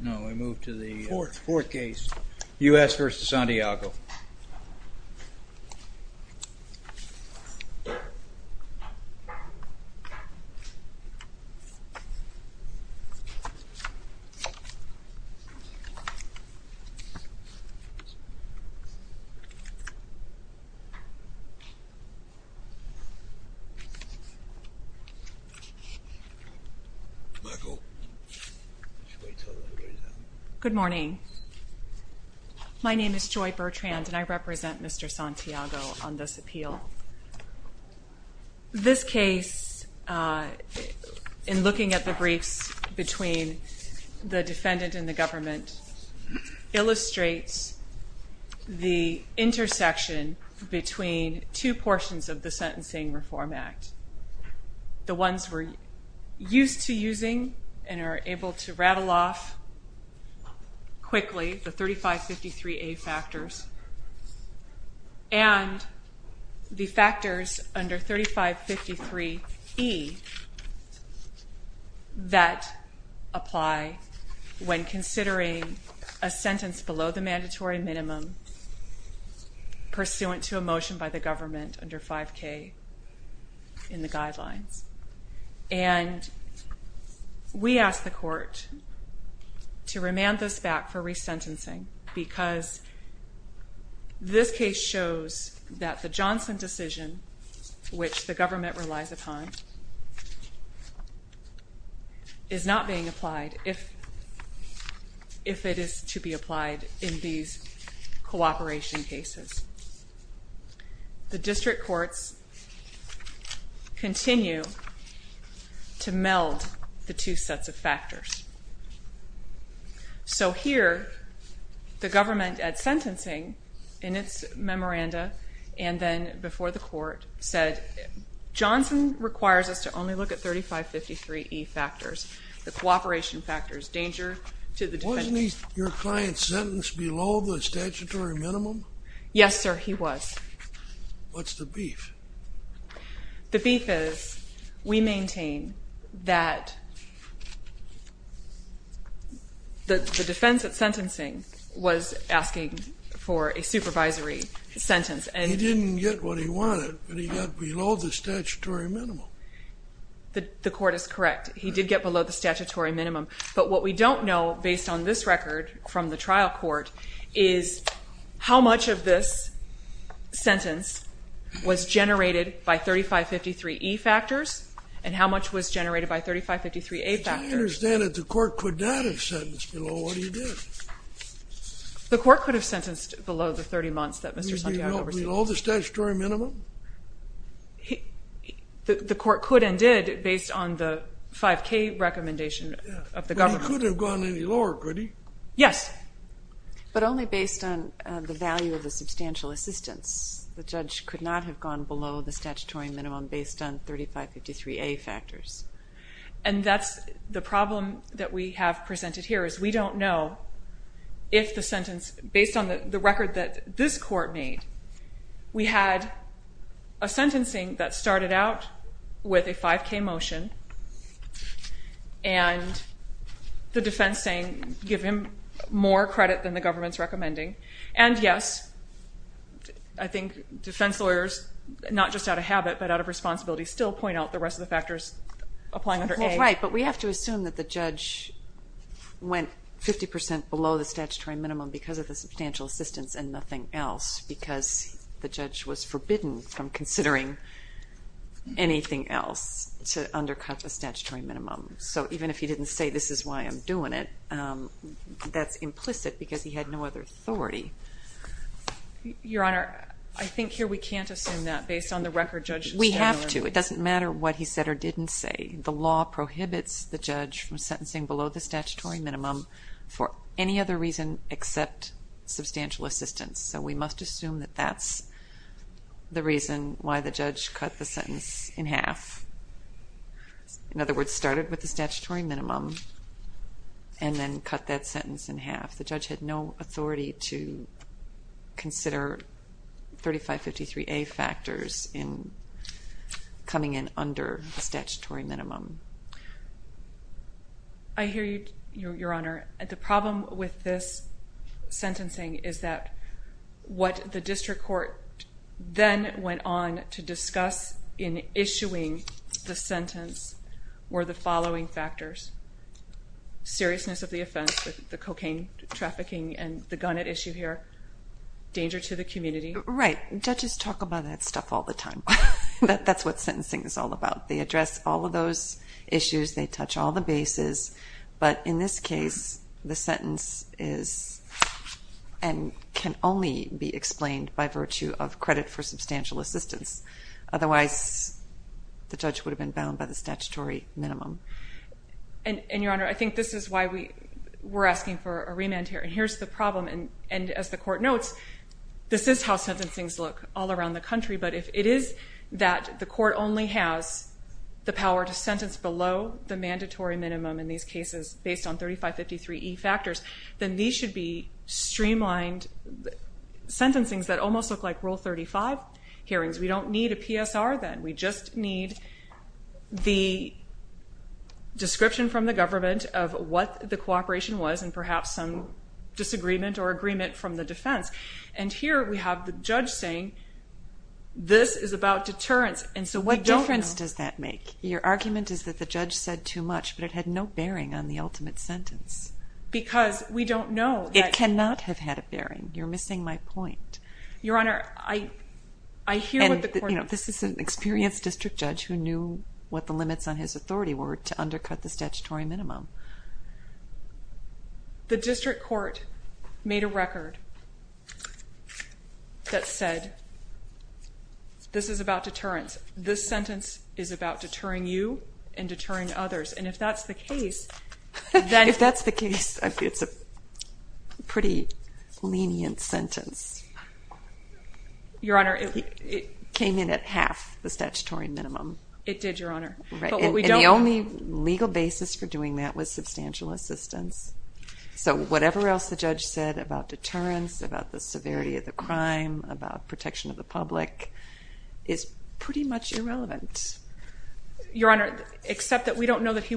Now we move to the fourth case, U.S. v. Santiago. Good morning. My name is Joy Bertrand and I represent Mr. Santiago on this appeal. This case, in looking at the briefs between the defendant and the government, illustrates the intersection between two portions of the Sentencing Reform Act. The ones we're used to using and are able to rattle off quickly, the 3553A factors, and the factors under 3553E that apply when considering a sentence below the mandatory minimum pursuant to a motion by the government under 5K in the guidelines. And we ask the court to remand this back for resentencing, because this case shows that the Johnson decision, which the government relies upon, is not being applied if it is to be applied in these cooperation cases. The district courts continue to meld the two sets of factors. So here, the government, at sentencing, in its memoranda, and then before the court, said Johnson requires us to only look at 3553E factors, the cooperation factors, danger to the defendant. Wasn't your client sentenced below the statutory minimum? Yes, sir, he was. What's the beef? The beef is we maintain that the defense at sentencing was asking for a supervisory sentence. He didn't get what he wanted, but he got below the statutory minimum. The court is correct. He did get below the statutory minimum. But what we don't know, based on this record from the trial court, is how much of this sentence was generated by 3553E factors, and how much was generated by 3553A factors. I understand that the court could not have sentenced below what he did. The court could have sentenced below the 30 months that Mr. Santiago received. Did he go below the statutory minimum? The court could and did, based on the 5K recommendation of the government. But he couldn't have gone any lower, could he? Yes. But only based on the value of the substantial assistance. The judge could not have gone below the statutory minimum based on 3553A factors. And that's the problem that we have presented here, is we don't know if the sentence, based on the record that this court made, we had a sentencing that started out with a 5K motion, and the defense saying give him more credit than the government's recommending. And, yes, I think defense lawyers, not just out of habit but out of responsibility, still point out the rest of the factors applying under A. Right, but we have to assume that the judge went 50 percent below the statutory minimum because of the substantial assistance and nothing else, because the judge was forbidden from considering anything else to undercut the statutory minimum. So even if he didn't say this is why I'm doing it, that's implicit because he had no other authority. Your Honor, I think here we can't assume that based on the record Judge Santiago made. We have to. It doesn't matter what he said or didn't say. The law prohibits the judge from sentencing below the statutory minimum for any other reason except substantial assistance. So we must assume that that's the reason why the judge cut the sentence in half. In other words, started with the statutory minimum and then cut that sentence in half. The judge had no authority to consider 3553A factors in coming in under the statutory minimum. I hear you, Your Honor. The problem with this sentencing is that what the district court then went on to discuss in issuing the sentence were the following factors. Seriousness of the offense, the cocaine trafficking and the gun at issue here, danger to the community. Right. Judges talk about that stuff all the time. That's what sentencing is all about. They address all of those issues. They touch all the bases. But in this case, the sentence is and can only be explained by virtue of credit for substantial assistance. Otherwise, the judge would have been bound by the statutory minimum. And, Your Honor, I think this is why we're asking for a remand here. And here's the problem. And as the court notes, this is how sentencings look all around the country. But if it is that the court only has the power to sentence below the mandatory minimum in these cases based on 3553E factors, then these should be streamlined sentencings that almost look like Rule 35 hearings. We don't need a PSR then. We just need the description from the government of what the cooperation was and perhaps some disagreement or agreement from the defense. And here we have the judge saying this is about deterrence. And so we don't know. What difference does that make? Your argument is that the judge said too much, but it had no bearing on the ultimate sentence. Because we don't know. It cannot have had a bearing. You're missing my point. Your Honor, I hear what the court notes. And this is an experienced district judge who knew what the limits on his authority were to undercut the statutory minimum. The district court made a record that said this is about deterrence. This sentence is about deterring you and deterring others. If that's the case, it's a pretty lenient sentence. Your Honor, it came in at half the statutory minimum. It did, Your Honor. And the only legal basis for doing that was substantial assistance. So whatever else the judge said about deterrence, about the severity of the crime, about protection of the public, is pretty much irrelevant. Your Honor, except that we don't know that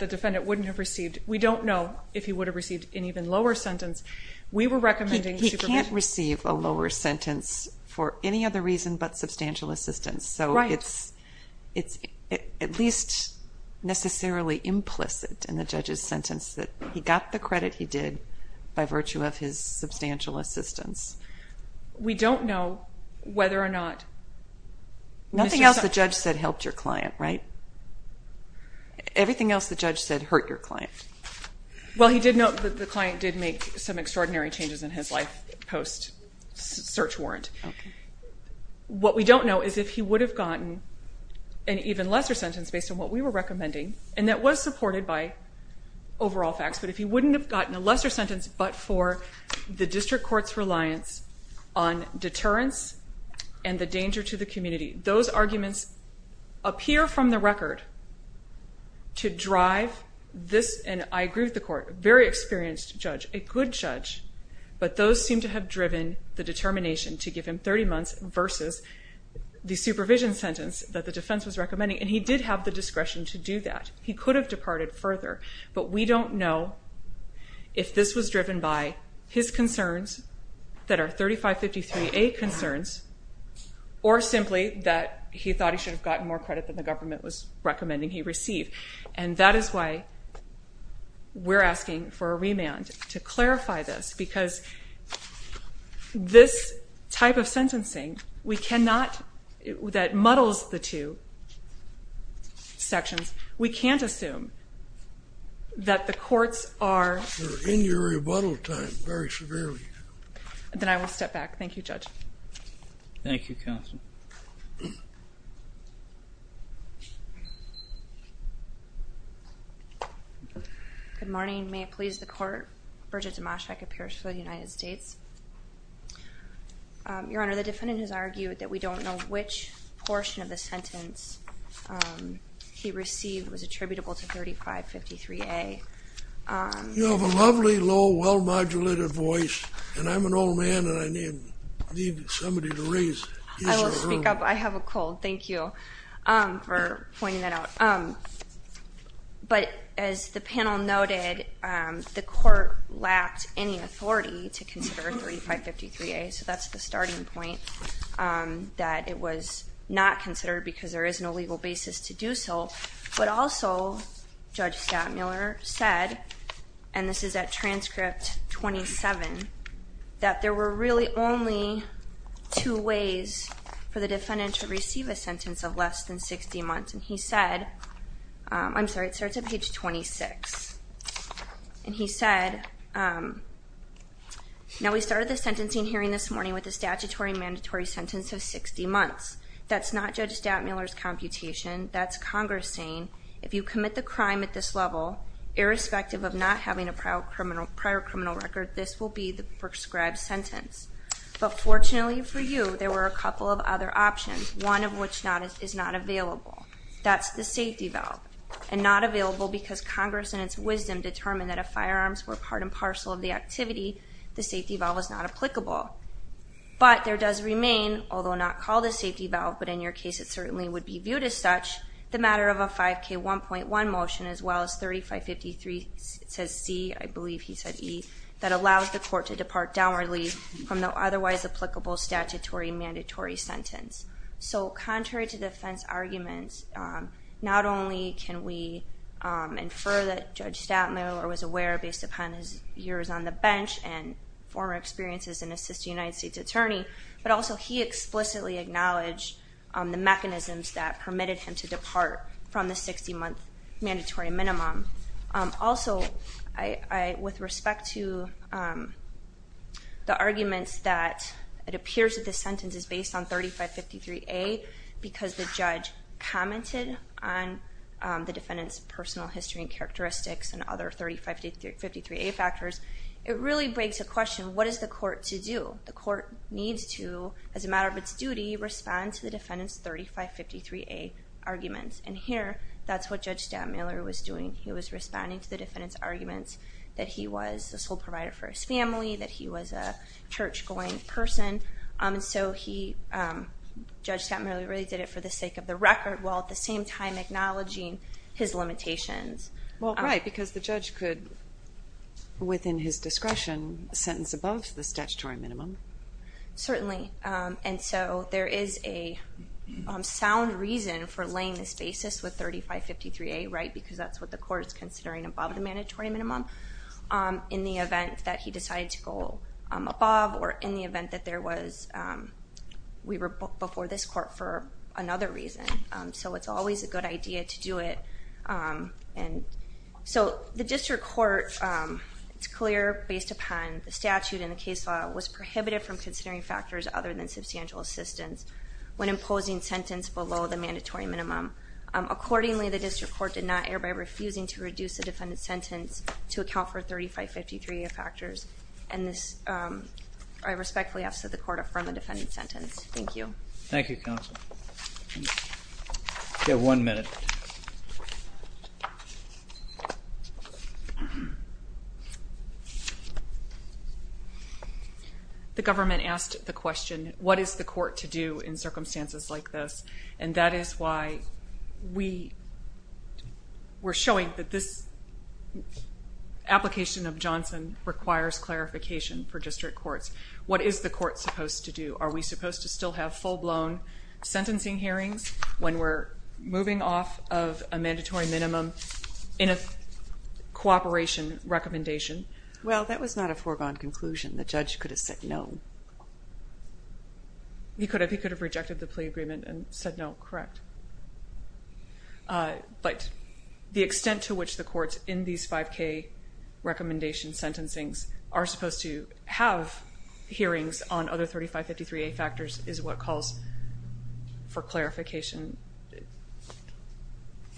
the defendant wouldn't have received. We don't know if he would have received an even lower sentence. We were recommending supervision. He can't receive a lower sentence for any other reason but substantial assistance. Right. So it's at least necessarily implicit in the judge's sentence that he got the credit he did by virtue of his substantial assistance. We don't know whether or not. Nothing else the judge said helped your client, right? Everything else the judge said hurt your client. Well, he did note that the client did make some extraordinary changes in his life post-search warrant. What we don't know is if he would have gotten an even lesser sentence based on what we were recommending, and that was supported by overall facts, but if he wouldn't have gotten a lesser sentence but for the district court's reliance on deterrence and the danger to the community. Those arguments appear from the record to drive this, and I agree with the court, very experienced judge, a good judge, but those seem to have driven the determination to give him 30 months versus the supervision sentence that the defense was recommending, and he did have the discretion to do that. He could have departed further, but we don't know if this was driven by his concerns that are 3553A concerns or simply that he thought he should have gotten more credit than the government was recommending he receive, and that is why we're asking for a remand to clarify this because this type of sentencing that muddles the two sections, we can't assume that the courts are... They're in your rebuttal time very severely. Then I will step back. Thank you, Judge. Thank you, Counsel. Good morning. May it please the Court. Bridget Dimashak appears for the United States. Your Honor, the defendant has argued that we don't know which portion of the sentence he received was attributable to 3553A. You have a lovely, low, well-modulated voice, and I'm an old man, and I need somebody to raise his or her... I will speak up. I have a cold. Thank you for pointing that out. But as the panel noted, the court lacked any authority to consider 3553A, so that's the starting point, that it was not considered because there is no legal basis to do so. But also, Judge Stadtmuller said, and this is at transcript 27, that there were really only two ways for the defendant to receive a sentence of less than 60 months, and he said... I'm sorry, it starts at page 26. And he said, now we started the sentencing hearing this morning with a statutory mandatory sentence of 60 months. That's not Judge Stadtmuller's computation. That's Congress saying, if you commit the crime at this level, irrespective of not having a prior criminal record, this will be the prescribed sentence. But fortunately for you, there were a couple of other options, one of which is not available. That's the safety valve, and not available because Congress, in its wisdom, determined that if firearms were part and parcel of the activity, the safety valve was not applicable. But there does remain, although not called a safety valve, but in your case it certainly would be viewed as such, the matter of a 5K1.1 motion, as well as 3553C, I believe he said E, that allows the court to depart downwardly from the otherwise applicable statutory mandatory sentence. So contrary to defense arguments, not only can we infer that Judge Stadtmuller was aware, based upon his years on the bench and former experiences in assisting a United States attorney, but also he explicitly acknowledged the mechanisms that permitted him to depart from the 60-month mandatory minimum. Also, with respect to the arguments that it appears that this sentence is based on 3553A, because the judge commented on the defendant's personal history and characteristics and other 3553A factors, it really begs the question, what is the court to do? The court needs to, as a matter of its duty, respond to the defendant's 3553A arguments. And here, that's what Judge Stadtmuller was doing. He was responding to the defendant's arguments that he was a sole provider for his family, that he was a church-going person. And so Judge Stadtmuller really did it for the sake of the record, while at the same time acknowledging his limitations. Well, right, because the judge could, within his discretion, sentence above the statutory minimum. Certainly. And so there is a sound reason for laying this basis with 3553A, right, because that's what the court is considering above the mandatory minimum in the event that he decided to go above or in the event that we were before this court for another reason. So it's always a good idea to do it. So the district court, it's clear, based upon the statute and the case law, was prohibited from considering factors other than substantial assistance when imposing sentence below the mandatory minimum. Accordingly, the district court did not err by refusing to reduce the defendant's sentence to account for 3553A factors. And I respectfully ask that the court affirm the defendant's sentence. Thank you. Thank you, counsel. We have one minute. The government asked the question, what is the court to do in circumstances like this? And that is why we're showing that this application of Johnson requires clarification for district courts. What is the court supposed to do? Are we supposed to still have full-blown sentencing hearings when we're moving off of a mandatory minimum in a cooperation recommendation? Well, that was not a foregone conclusion. The judge could have said no. He could have. He could have rejected the plea agreement and said no, correct. But the extent to which the courts in these 5K recommendation sentencings are supposed to have hearings on other 3553A factors is what calls for clarification.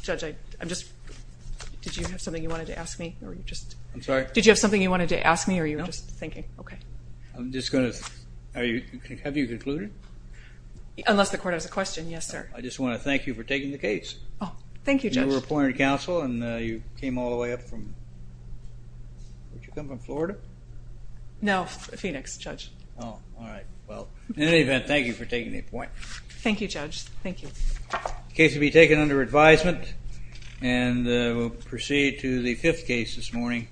Judge, did you have something you wanted to ask me? I'm sorry? Did you have something you wanted to ask me or you were just thinking? No. Okay. Have you concluded? Unless the court has a question, yes, sir. I just want to thank you for taking the case. Oh, thank you, Judge. You were appointed counsel and you came all the way up from, did you come from Florida? No, Phoenix, Judge. Oh, all right. Well, in any event, thank you for taking the appointment. Thank you, Judge. Thank you. The case will be taken under advisement and we'll proceed to the fifth case this morning.